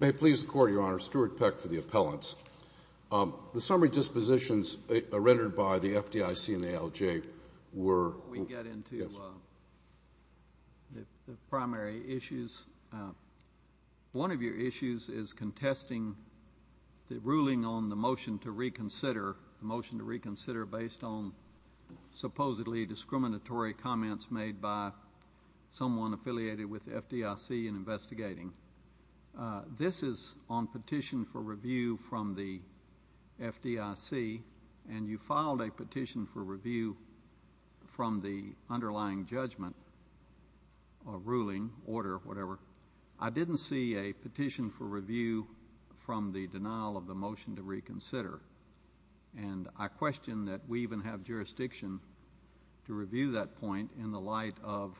May it please the Court, Your Honor, Stuart Peck for the appellants. The summary dispositions rendered by the FDIC and the ALJ were Before we get into the primary issues, one of your issues is contesting the ruling on the motion to reconsider based on supposedly discriminatory comments made by someone affiliated with the FDIC in investigating. This is on petition for review from the FDIC, and you filed a petition for review from the underlying judgment or ruling, order, whatever. I didn't see a petition for review from the denial of the motion to reconsider, and I question that we even have jurisdiction to review that point in the light of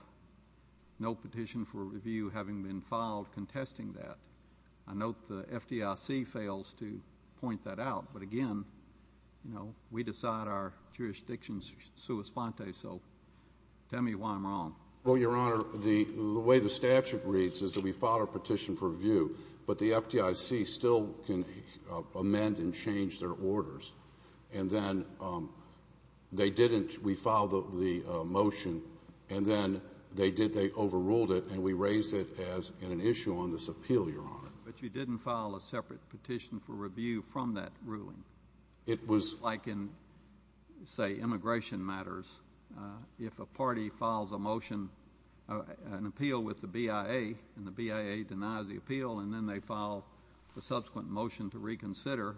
no petition for review having been filed contesting that. I note the FDIC fails to point that out, but again, you know, we decide our jurisdictions sua sponte, so tell me why I'm wrong. Well, Your Honor, the way the statute reads is that we filed our petition for review, but the FDIC still can amend and change their orders, and then they didn't. We filed the motion, and then they overruled it, and we raised it as an issue on this appeal, Your Honor. But you didn't file a separate petition for review from that ruling. It was like in, say, immigration matters. If a party files a motion, an appeal with the BIA, and the BIA denies the appeal, and then they file a subsequent motion to reconsider,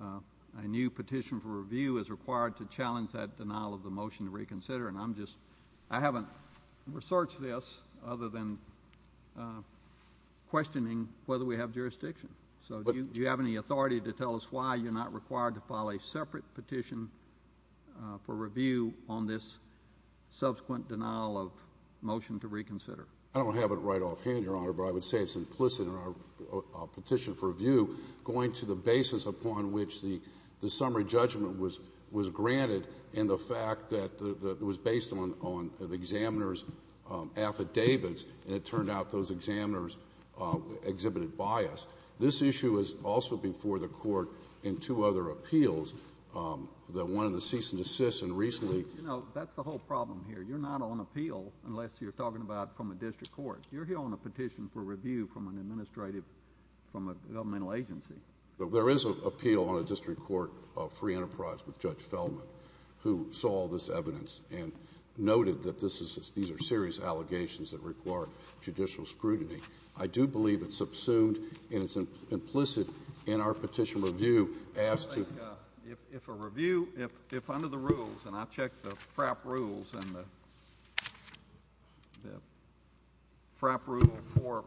a new petition for review is required to challenge that denial of the motion to reconsider, and I'm just, I haven't researched this other than questioning whether we have jurisdiction. So, do you have any authority to tell us why you're not required to file a separate petition for review on this subsequent denial of motion to reconsider? I don't have it right offhand, Your Honor, but I would say it's implicit in our petition for review, going to the basis upon which the summary judgment was granted, and the fact that it was based on the examiner's affidavits, and it turned out those examiners exhibited bias. This issue is also before the Court in two other appeals, the one in the cease and desist and recently... You know, that's the whole problem here. You're not on appeal unless you're talking about from a district court. You're here on a petition for review from an administrative, from a governmental agency. There is an appeal on a district court of free enterprise with Judge Feldman, who saw all this evidence and noted that this is, these are serious allegations that require judicial scrutiny. I do believe it's subsumed and it's implicit in our petition for review as to... If a review, if under the rules, and I checked the FRAP rules and the FRAP rule for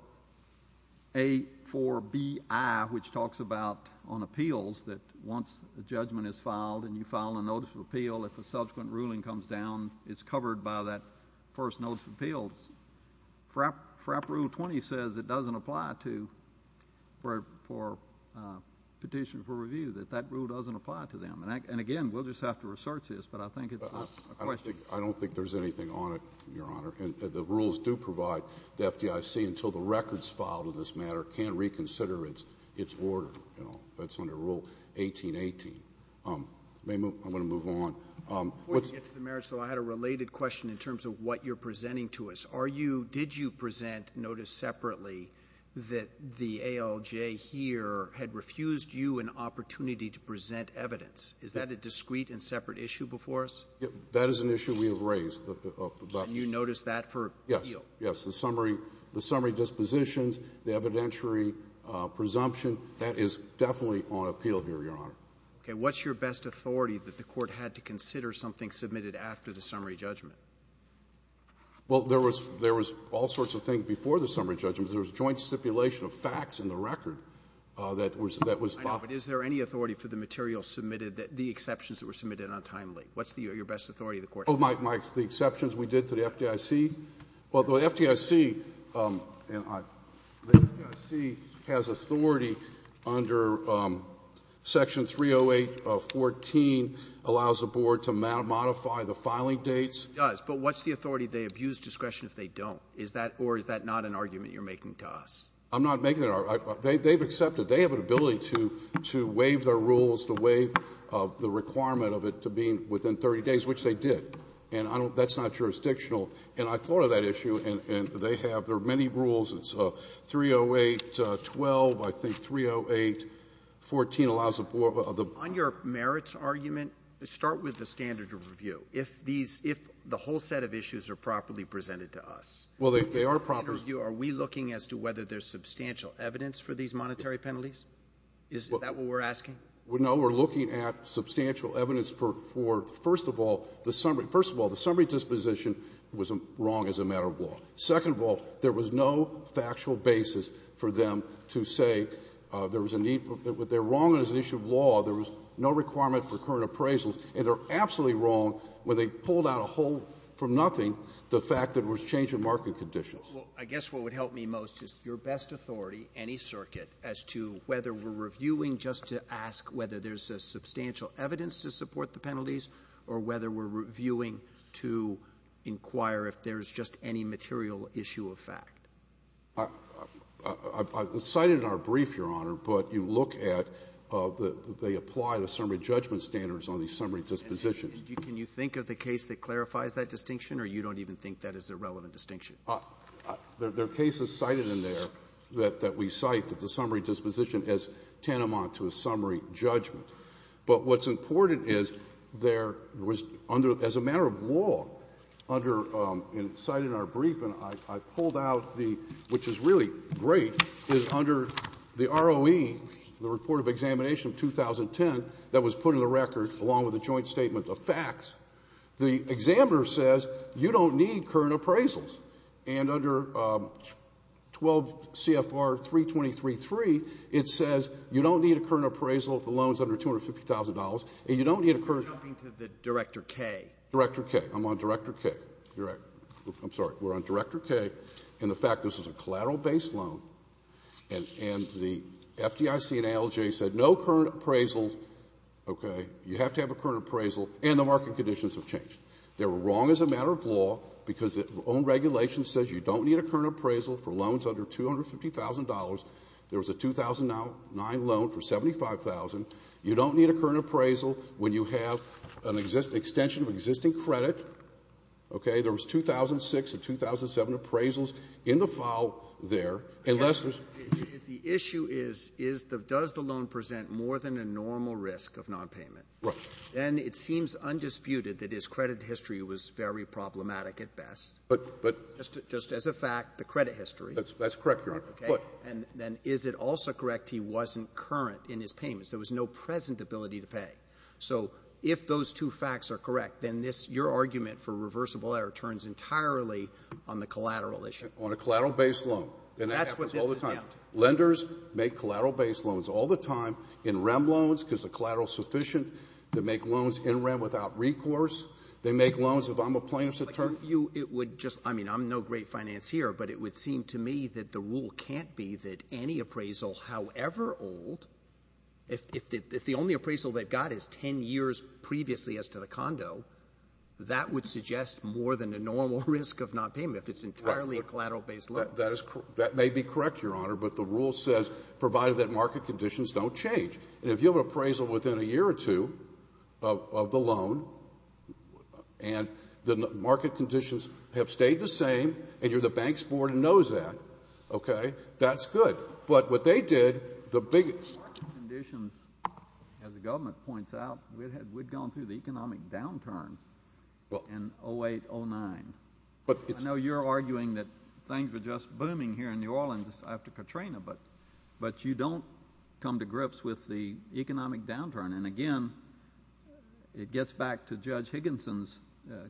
A4BI, which talks about on appeals that once a judgment is filed and you file a notice of appeal, if a subsequent ruling comes down, it's covered by that first notice of appeals. FRAP rule 20 says it doesn't apply to, for a petition for review, that that rule doesn't apply to them. And again, we'll just have to research this, but I think it's a question. I don't think there's anything on it, Your Honor, and the rules do provide the FDIC until the records filed in this matter can reconsider its order, you know, that's under rule 1818. May move, I'm going to move on. Before we get to the merits, though, I had a related question in terms of what you're saying. Are you — did you present notice separately that the ALJ here had refused you an opportunity to present evidence? Is that a discrete and separate issue before us? That is an issue we have raised. Can you notice that for appeal? Yes. Yes. The summary dispositions, the evidentiary presumption, that is definitely on appeal here, Your Honor. Okay. What's your best authority that the Court had to consider something submitted after the summary judgment? Well, there was — there was all sorts of things before the summary judgment. There was joint stipulation of facts in the record that was — that was thought — I know, but is there any authority for the material submitted that — the exceptions that were submitted on time late? What's the — your best authority the Court had? Oh, my — my — the exceptions we did to the FDIC? Well, the FDIC — and I — the FDIC has authority under Section 308 of 14, allows the Board to modify the filing dates. Yes, it does. But what's the authority they abuse discretion if they don't? Is that — or is that not an argument you're making to us? I'm not making an — they've accepted. They have an ability to — to waive their rules, to waive the requirement of it to being within 30 days, which they did. And I don't — that's not jurisdictional. And I thought of that issue, and they have — there are many rules. It's 308-12. I think 308-14 allows the Board of the — On your merits argument, start with the standard of review. If these — if the whole set of issues are properly presented to us — Well, they are properly — Are we looking as to whether there's substantial evidence for these monetary penalties? Is that what we're asking? No, we're looking at substantial evidence for, first of all, the summary — first of all, the summary disposition was wrong as a matter of law. Second of all, there was no factual basis for them to say there was a need — they're wrong as an issue of law. There was no requirement for current appraisals. And they're absolutely wrong when they pulled out a whole from nothing the fact that there was change in market conditions. Well, I guess what would help me most is your best authority, any circuit, as to whether we're reviewing just to ask whether there's substantial evidence to support the penalties or whether we're reviewing to inquire if there's just any material issue of fact. I've cited in our brief, Your Honor, but you look at the — they apply the summary judgment standards on these summary dispositions. And can you think of the case that clarifies that distinction, or you don't even think that is a relevant distinction? There are cases cited in there that we cite that the summary disposition is tantamount to a summary judgment. But what's important is there was under — as a matter of law, under — and cited in our brief, and I pulled out the — which is really great, is under the ROE, the examiner has put in the record, along with a joint statement of facts, the examiner says you don't need current appraisals. And under 12 CFR 323.3, it says you don't need a current appraisal if the loan is under $250,000, and you don't need a current — You're jumping to the Director Kaye. Director Kaye. I'm on Director Kaye. I'm sorry. We're on Director Kaye. And the fact this is a collateral-based loan, and the FDIC and ALJ said no current appraisals, okay, you have to have a current appraisal, and the market conditions have changed. They were wrong as a matter of law because the own regulation says you don't need a current appraisal for loans under $250,000. There was a 2009 loan for $75,000. You don't need a current appraisal when you have an extension of existing credit. Okay? There was 2006 and 2007 appraisals in the file there. And the issue is, is the — does the loan present more than a normal risk of nonpayment? Right. And it seems undisputed that his credit history was very problematic at best. But — but — Just as a fact, the credit history. That's correct, Your Honor. But — And then is it also correct he wasn't current in his payments? There was no present ability to pay. So if those two facts are correct, then this — your argument for reversible error turns entirely on the collateral issue. On a collateral-based loan. And that happens all the time. That's what this is now. Lenders make collateral-based loans all the time in REM loans because the collateral is sufficient. They make loans in REM without recourse. They make loans if I'm a plaintiff's attorney. You — it would just — I mean, I'm no great financier, but it would seem to me that the rule can't be that any appraisal, however old — if the only appraisal they've got is 10 years previously as to the condo, that would suggest more than a normal risk of nonpayment if it's entirely a collateral-based loan. That is — that may be correct, Your Honor, but the rule says provided that market conditions don't change. And if you have an appraisal within a year or two of the loan, and the market conditions have stayed the same, and you're the bank's board and knows that, OK, that's good. But what they did, the big — Market conditions, as the government points out, we'd had — we'd gone through the economic downturn in 08, 09. But it's — It's just booming here in New Orleans after Katrina, but you don't come to grips with the economic downturn. And, again, it gets back to Judge Higginson's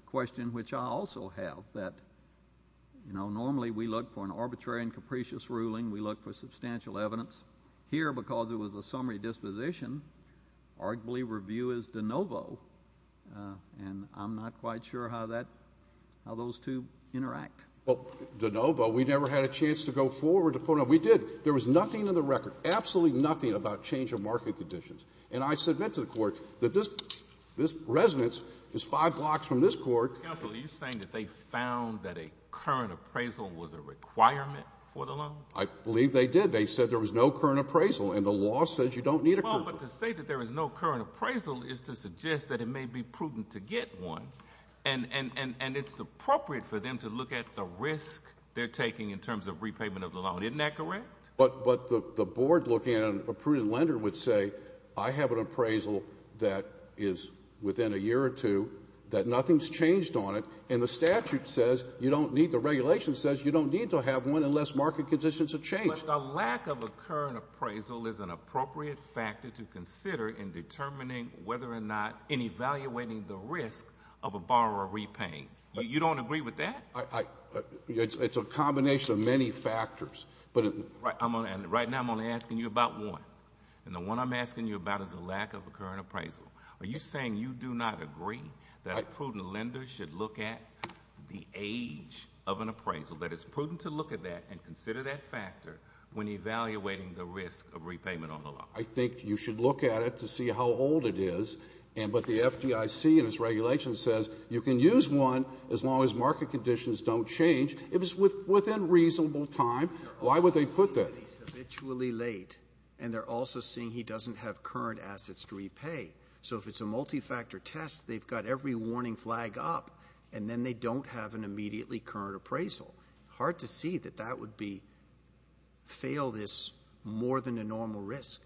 question, which I also have, that, you know, normally we look for an arbitrary and capricious ruling. We look for substantial evidence. Here, because it was a summary disposition, arguably review is de novo. And I'm not quite sure how that — how those two interact. Well, de novo, we never had a chance to go forward to point out — we did. There was nothing in the record, absolutely nothing, about change of market conditions. And I submit to the court that this — this residence is five blocks from this court — Counsel, are you saying that they found that a current appraisal was a requirement for the loan? I believe they did. They said there was no current appraisal. And the law says you don't need a current appraisal. Well, but to say that there was no current appraisal is to suggest that it may be prudent to get one. And — and — and it's appropriate for them to look at the risk they're taking in terms of repayment of the loan. Isn't that correct? But — but the — the board looking at a prudent lender would say, I have an appraisal that is within a year or two, that nothing's changed on it, and the statute says you don't need — the regulation says you don't need to have one unless market conditions have changed. But the lack of a current appraisal is an appropriate factor to consider in terms of a borrower repaying. You don't agree with that? I — it's a combination of many factors. But — Right now, I'm only asking you about one. And the one I'm asking you about is the lack of a current appraisal. Are you saying you do not agree that a prudent lender should look at the age of an appraisal, that it's prudent to look at that and consider that factor when evaluating the risk of repayment on the loan? I think you should look at it to see how old it is. And — but the FDIC in its regulation says you can use one as long as market conditions don't change, if it's within reasonable time. Why would they put that? They're also seeing that he's habitually late. And they're also seeing he doesn't have current assets to repay. So if it's a multi-factor test, they've got every warning flag up, and then they don't have an immediately current appraisal. Hard to see that that would be — fail this more than a normal risk.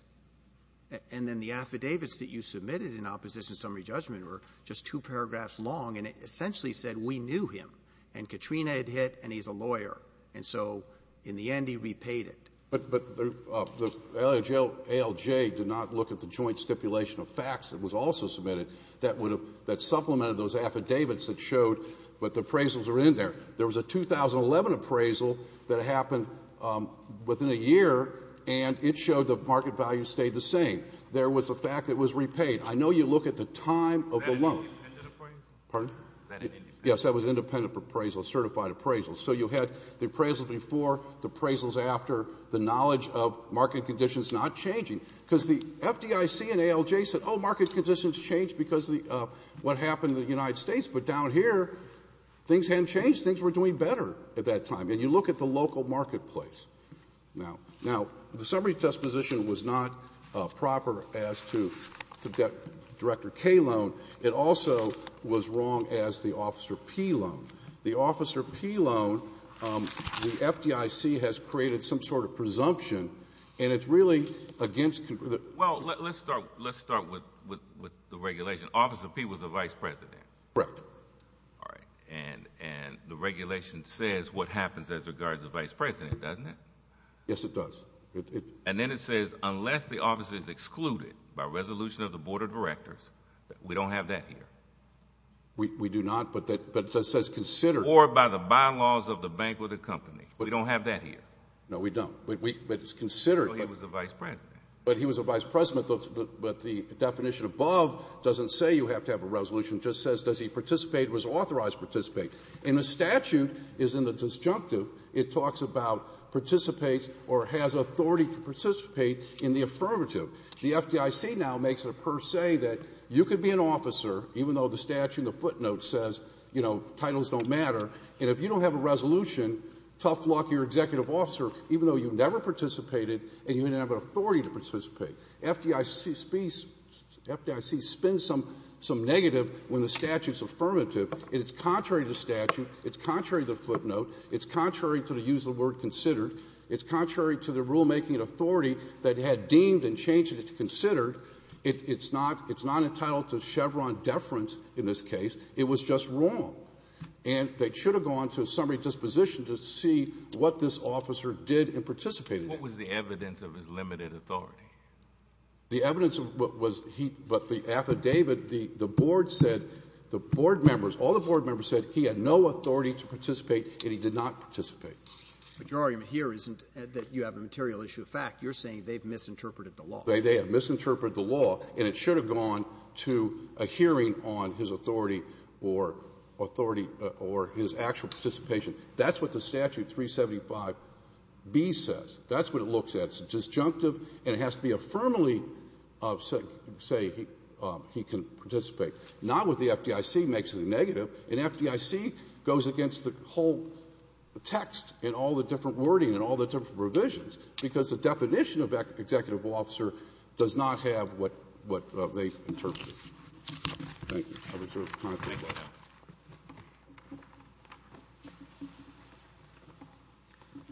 And then the affidavits that you submitted in opposition summary judgment were just two paragraphs long, and it essentially said, we knew him. And Katrina had hit, and he's a lawyer. And so, in the end, he repaid it. But — but the ALJ did not look at the joint stipulation of facts that was also submitted that would have — that supplemented those affidavits that showed that the appraisals are in there. There was a 2011 appraisal that happened within a year, and it showed the market value stayed the same. There was a fact that was repaid. I know you look at the time of the loan. Is that an independent appraisal? Pardon? Is that an independent appraisal? Yes, that was an independent appraisal, a certified appraisal. So you had the appraisals before, the appraisals after, the knowledge of market conditions not changing, because the FDIC and ALJ said, oh, market conditions changed because of the — what happened in the United States. But down here, things hadn't changed. Things were doing better at that time. And you look at the local marketplace. Now, the summary disposition was not proper as to Director Kaye's loan. It also was wrong as the Officer Peay loan. The Officer Peay loan, the FDIC has created some sort of presumption, and it's really against — Well, let's start with the regulation. Officer Peay was the vice president. Correct. All right. And the regulation says what happens as regards the vice president, doesn't it? Yes, it does. And then it says unless the officer is excluded by resolution of the Board of Directors, we don't have that here. We do not. But that says considered — Or by the bylaws of the bank or the company. We don't have that here. No, we don't. But it's considered — So he was the vice president. But he was the vice president, but the definition above doesn't say you have to have a resolution. It just says, does he participate, was authorized to participate. And the statute is in the disjunctive. It talks about participates or has authority to participate in the affirmative. The FDIC now makes it a per se that you could be an officer, even though the statute in the footnote says, you know, titles don't matter, and if you don't have a resolution, tough luck, you're an executive officer, even though you never participated and you didn't have an authority to participate. FDIC spins some negative when the statute's affirmative. And it's contrary to the statute. It's contrary to the footnote. It's contrary to the use of the word considered. It's contrary to the rulemaking authority that had deemed and changed it to considered. It's not — it's not entitled to Chevron deference in this case. It was just wrong. And they should have gone to a summary disposition to see what this officer did and participated in. What was the evidence of his limited authority? The evidence was he — but the affidavit, the board said, the board members, all the board members said he had no authority to participate and he did not participate. But your argument here isn't that you have a material issue of fact. You're saying they've misinterpreted the law. They have misinterpreted the law, and it should have gone to a hearing on his authority or authority or his actual participation. That's what the statute, 375B, says. That's what it looks at. It's disjunctive, and it has to be affirmatively of — say he can participate. Not what the FDIC makes of the negative. And FDIC goes against the whole text and all the different wording and all the different provisions because the definition of an executable officer does not have what they interpreted. Thank you. I reserve the time for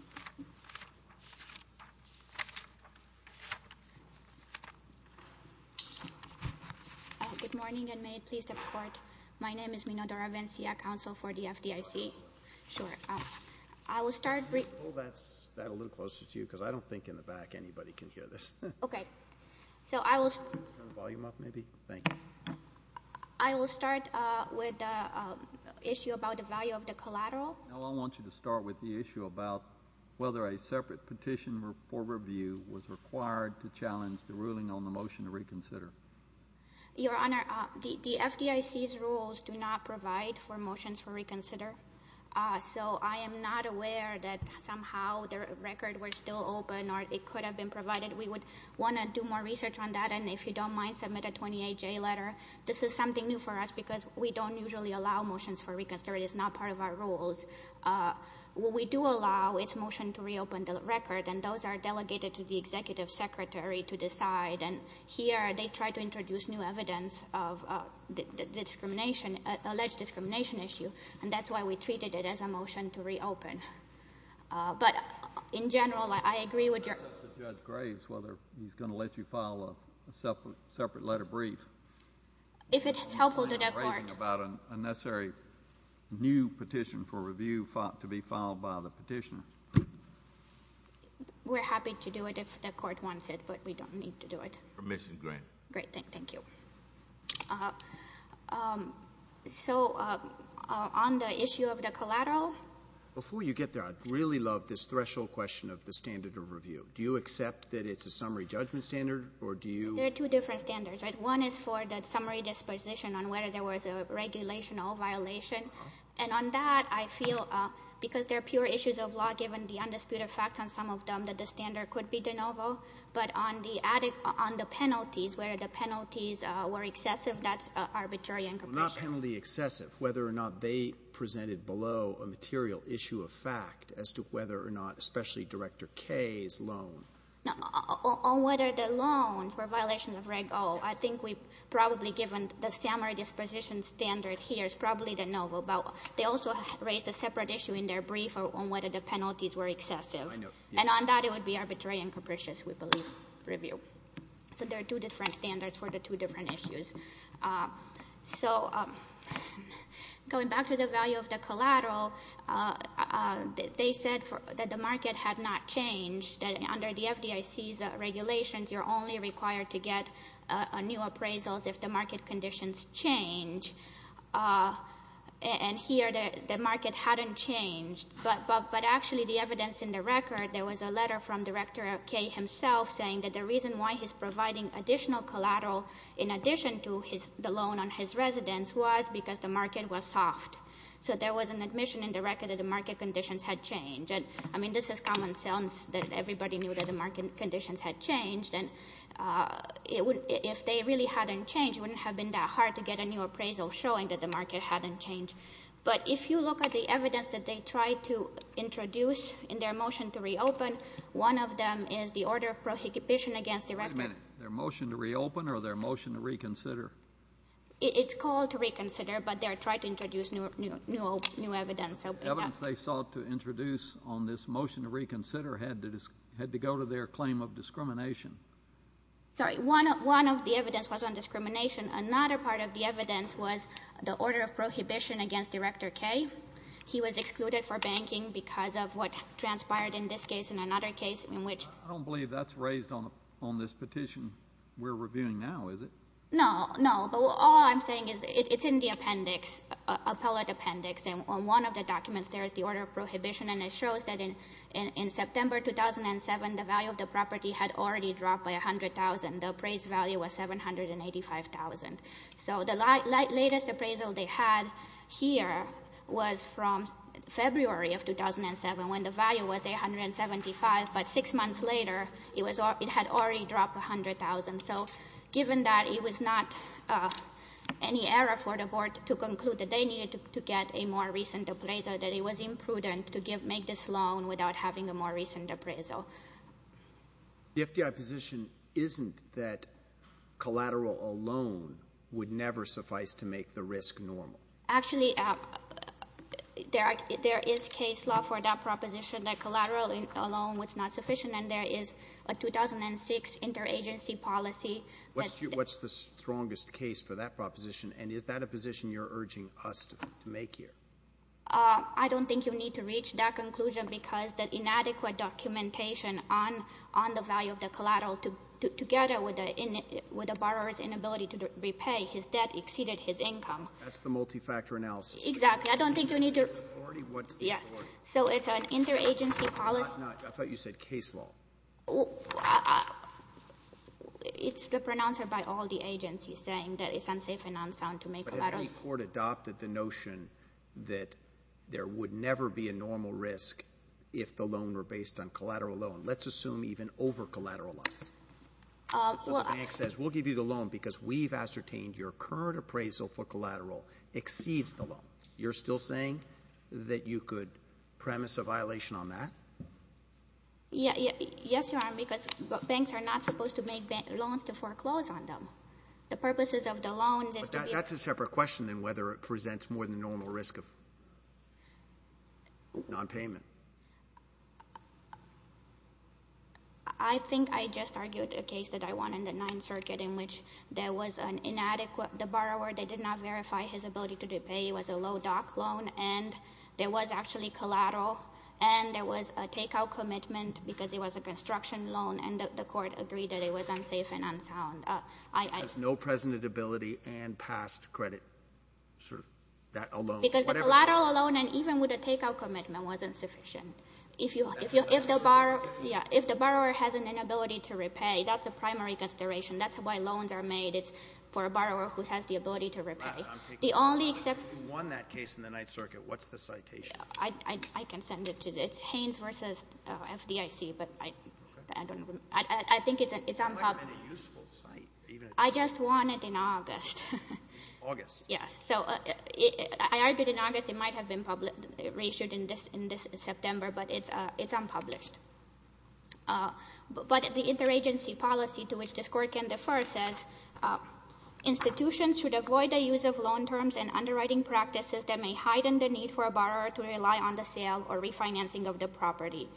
questions. Good morning, and may it please the Court. My name is Minodora Vencia, counsel for the FDIC. Sure. I will start — Can you hold that a little closer to you because I don't think in the back anybody can hear this. Okay. So I will — Turn the volume up, maybe? Thank you. I will start with the issue about the value of the collateral. No, I want you to start with the issue about whether a separate petition for review was required to challenge the ruling on the motion to reconsider. Your Honor, the FDIC's rules do not provide for motions for reconsider. So I am not aware that somehow the record were still open or it could have been provided. We would want to do more research on that, and if you don't mind, submit a 28-J letter. This is something new for us because we don't usually allow motions for reconsider. It is not part of our rules. We do allow its motion to reopen the record, and those are delegated to the executive secretary to decide. And here, they try to introduce new evidence of the discrimination — alleged discrimination issue, and that's why we treated it as a motion to reopen. But in general, I agree with your — I'm going to ask Judge Graves whether he's going to let you file a separate letter brief. If it's helpful to the court. I'm going to ask Judge Graves about a necessary new petition for review to be filed by the petitioner. We're happy to do it if the court wants it, but we don't need to do it. Permission granted. Great. Thank you. So, on the issue of the collateral — Before you get there, I'd really love this threshold question of the standard of review. Do you accept that it's a summary judgment standard, or do you — There are two different standards, right? One is for the summary disposition on whether there was a regulation or violation. And on that, I feel — because there are pure issues of law, given the undisputed facts on some of them, that the standard could be de novo. But on the penalties, whether the penalties were excessive, that's arbitrary and capricious. Well, not penalty excessive. Whether or not they presented below a material issue of fact as to whether or not — especially Director Kaye's loan. On whether the loan for violations of Reg O, I think we've probably given the summary disposition standard here is probably de novo. But they also raised a separate issue in their brief on whether the penalties were excessive. And on that, it would be arbitrary and capricious, we believe, review. So there are two different standards for the two different issues. So, going back to the value of the collateral, they said that the market had not changed, that under the FDIC's regulations, you're only required to get new appraisals if the market conditions change. And here, the market hadn't changed. But actually, the evidence in the record, there was a letter from Director Kaye himself saying that the reason why he's providing additional collateral in addition to the loan on his residence was because the market was soft. So there was an admission in the record that the market conditions had changed. And, I mean, this is common sense that everybody knew that the market conditions had changed. And if they really hadn't changed, it wouldn't have been that hard to get a new appraisal showing that the market hadn't changed. But if you look at the evidence that they tried to introduce in their motion to reopen, one of them is the order of prohibition against Director— Wait a minute. Their motion to reopen or their motion to reconsider? It's called to reconsider, but they're trying to introduce new evidence. The evidence they sought to introduce on this motion to reconsider had to go to their claim of discrimination. Sorry, one of the evidence was on discrimination. Another part of the evidence was the order of prohibition against Director Kaye. He was excluded for banking because of what transpired in this case and another case in which— I don't believe that's raised on this petition we're reviewing now, is it? No, no. But all I'm saying is it's in the appendix, appellate appendix. And on one of the documents there is the order of prohibition, and it shows that in September 2007, the value of the property had already dropped by $100,000. The appraised value was $785,000. So the latest appraisal they had here was from February of 2007 when the value was $875,000, but six months later it had already dropped $100,000. So given that it was not any error for the board to conclude that they needed to get a more recent appraisal, that it was imprudent to make this loan without having a more recent appraisal. So the FDI position isn't that collateral alone would never suffice to make the risk normal? Actually, there is case law for that proposition that collateral alone was not sufficient, and there is a 2006 interagency policy that— What's the strongest case for that proposition, and is that a position you're urging us to make here? I don't think you need to reach that conclusion because the inadequate documentation on the value of the collateral together with the borrower's inability to repay his debt exceeded his income. That's the multi-factor analysis. Exactly. I don't think you need to— What's the authority? What's the authority? Yes. So it's an interagency policy— I thought you said case law. Well, it's been pronounced by all the agencies saying that it's unsafe and unsound to make collateral— But the FDI court adopted the notion that there would never be a normal risk if the loan were based on collateral alone. Let's assume even over collateral loans. Well— The bank says, we'll give you the loan because we've ascertained your current appraisal for collateral exceeds the loan. You're still saying that you could premise a violation on that? Yes, Your Honor, because banks are not supposed to make loans to foreclose on them. The purposes of the loans is to be— That's a separate question than whether it presents more than normal risk of non-payment. I think I just argued a case that I won in the Ninth Circuit in which there was an inadequate— the borrower, they did not verify his ability to repay. It was a low-doc loan, and there was actually collateral, and there was a take-out commitment because it was a construction loan, and the court agreed that it was unsafe and unsound. That has no presentability and past credit, sort of, that alone. Because the collateral alone, and even with a take-out commitment, wasn't sufficient. If the borrower has an inability to repay, that's a primary consideration. That's why loans are made. It's for a borrower who has the ability to repay. The only exception— If you won that case in the Ninth Circuit, what's the citation? I can send it to you. It's Haynes v. FDIC, but I don't—I think it's unpopular. It's not even a useful site. I just won it in August. August. Yes. So I argued in August. It might have been published—reissued in this September, but it's unpublished. But the interagency policy to which this court can defer says, institutions should avoid the use of loan terms and underwriting practices that may heighten the need for a borrower to rely on the sale or refinancing of the property.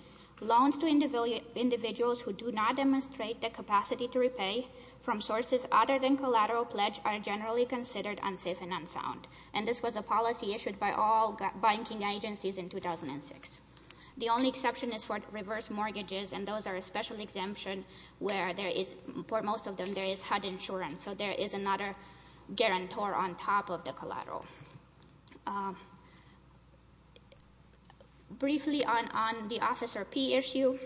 Loans to individuals who do not demonstrate the capacity to repay from sources other than collateral pledge are generally considered unsafe and unsound. And this was a policy issued by all banking agencies in 2006. The only exception is for reverse mortgages, and those are a special exemption where there is—for most of them, there is HUD insurance. So there is another guarantor on top of the collateral. Briefly, on the Officer P issue,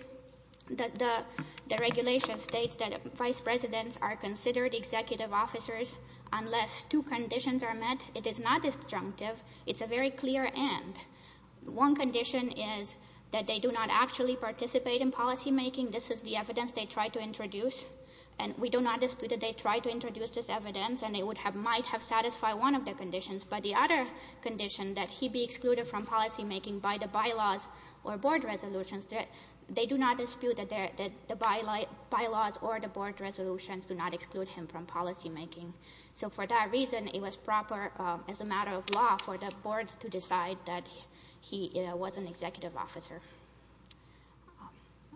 the regulation states that vice presidents are considered executive officers unless two conditions are met. It is not disjunctive. It's a very clear and. One condition is that they do not actually participate in policymaking. This is the evidence they try to introduce, and we do not dispute that they try to introduce this evidence, and it might have satisfied one of the conditions, but the other condition that he be excluded from policymaking by the bylaws or board resolutions, they do not dispute that the bylaws or the board resolutions do not exclude him from policymaking. So for that reason, it was proper as a matter of law for the board to decide that he was an executive officer.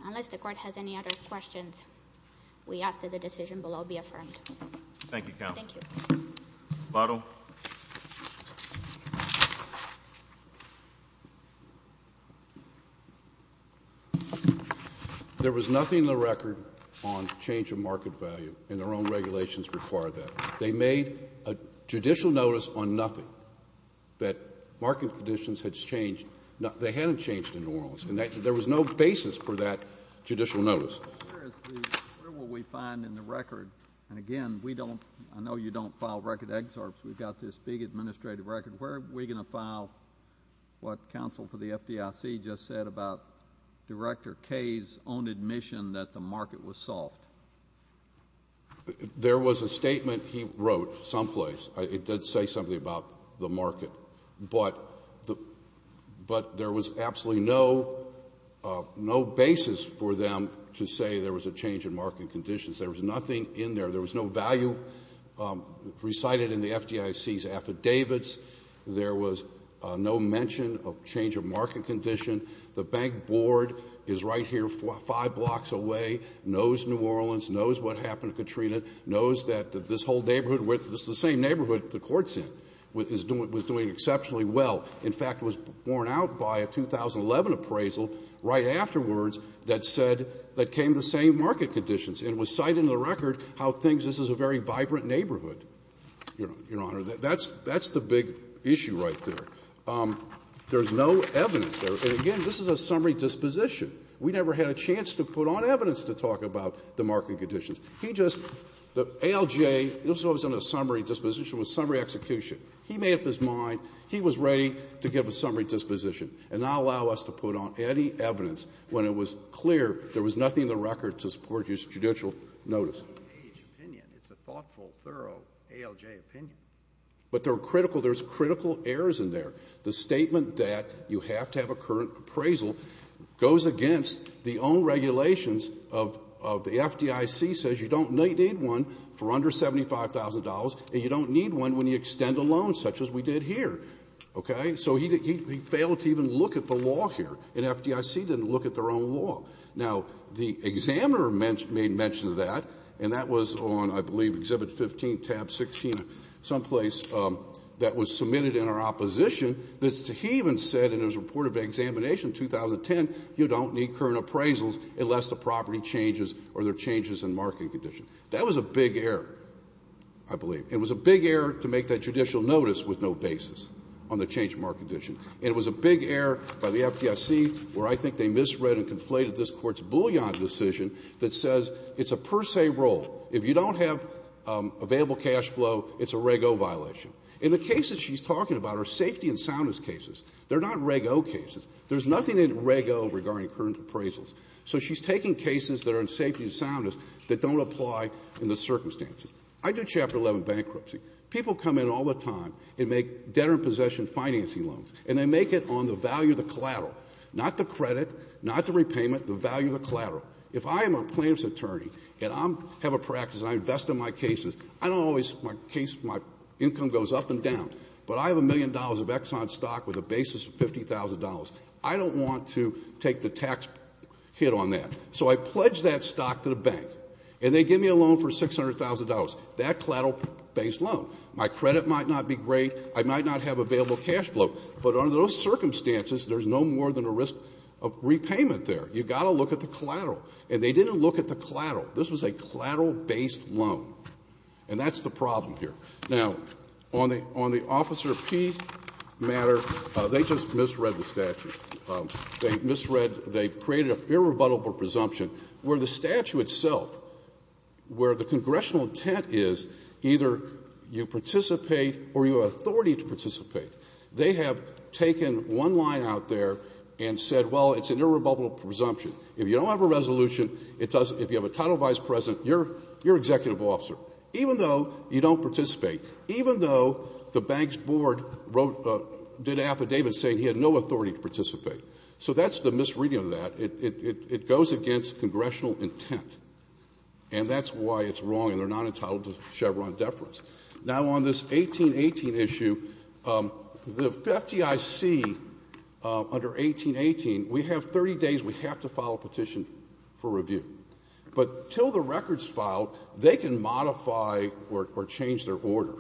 Unless the Court has any other questions, we ask that the decision below be affirmed. Thank you, Counsel. Thank you. Lotto. There was nothing in the record on change of market value, and our own regulations require that. They made a judicial notice on nothing that market conditions had changed. They hadn't changed in New Orleans, and there was no basis for that judicial notice. I'm curious, where will we find in the record, and again, we don't, I know you don't file record excerpts. We've got this big administrative record. Where are we going to file what counsel for the FDIC just said about Director Kaye's own admission that the market was soft? There was a statement he wrote someplace. It did say something about the market, but there was absolutely no basis for them to say there was a change in market conditions. There was nothing in there. There was no value recited in the FDIC's affidavits. There was no mention of change of market condition. The bank board is right here five blocks away, knows New Orleans, knows what happened to Katrina, knows that this whole neighborhood, this is the same neighborhood the court's in, was doing exceptionally well. In fact, it was borne out by a 2011 appraisal right afterwards that said that came the same market conditions, and it was cited in the record how things, this is a very vibrant neighborhood, Your Honor. That's the big issue right there. There's no evidence there, and again, this is a summary disposition. We never had a chance to put on evidence to talk about the market conditions. He just, the ALJ, it wasn't a summary disposition, it was a summary execution. He made up his mind. He was ready to give a summary disposition and not allow us to put on any evidence when it was clear there was nothing in the record to support his judicial notice. It's a thoughtful, thorough ALJ opinion. But there are critical, there's critical errors in there. The statement that you have to have a current appraisal goes against the own regulations of the FDIC, says you don't need one for under $75,000, and you don't need one when you extend a loan, such as we did here, okay? So he failed to even look at the law here, and FDIC didn't look at their own law. Now the examiner made mention of that, and that was on, I believe, Exhibit 15, tab 16, someplace that was submitted in our opposition, that he even said in his report of examination 2010, you don't need current appraisals unless the property changes or there are changes in market condition. That was a big error, I believe. It was a big error to make that judicial notice with no basis on the change in market condition, and it was a big error by the FDIC, where I think they misread and conflated this Court's bullion decision that says it's a per se rule. If you don't have available cash flow, it's a Reg O violation. And the cases she's talking about are safety and soundness cases. They're not Reg O cases. There's nothing in Reg O regarding current appraisals. So she's taking cases that are in safety and soundness that don't apply in the circumstances. I do Chapter 11 bankruptcy. People come in all the time and make debtor-in-possession financing loans, and they make it on the value of the collateral, not the credit, not the repayment, the value of the collateral. If I am a plaintiff's attorney and I have a practice and I invest in my cases, I don't always, my case, my income goes up and down, but I have a million dollars of Exxon stock with a basis of $50,000. I don't want to take the tax hit on that. So I pledge that stock to the bank, and they give me a loan for $600,000. That collateral-based loan. My credit might not be great. I might not have available cash flow. But under those circumstances, there's no more than a risk of repayment there. You've got to look at the collateral. And they didn't look at the collateral. This was a collateral-based loan. And that's the problem here. Now, on the Officer P matter, they just misread the statute. They misread, they created an irrebuttable presumption where the statute itself, where the congressional intent is either you participate or you have authority to participate. They have taken one line out there and said, well, it's an irrebuttable presumption. If you don't have a resolution, it doesn't, if you have a title vice president, you're executive officer. Even though you don't participate. Even though the bank's board did an affidavit saying he had no authority to participate. So that's the misreading of that. It goes against congressional intent. And that's why it's wrong, and they're not entitled to Chevron deference. Now, on this 1818 issue, the FDIC, under 1818, we have 30 days we have to file a petition for review. But until the record's filed, they can modify or change their order.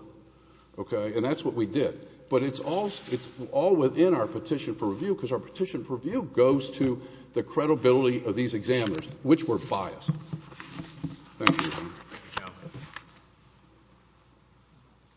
And that's what we did. But it's all within our petition for review, because our petition for review goes to the credibility of these examiners, which were biased. Thank you.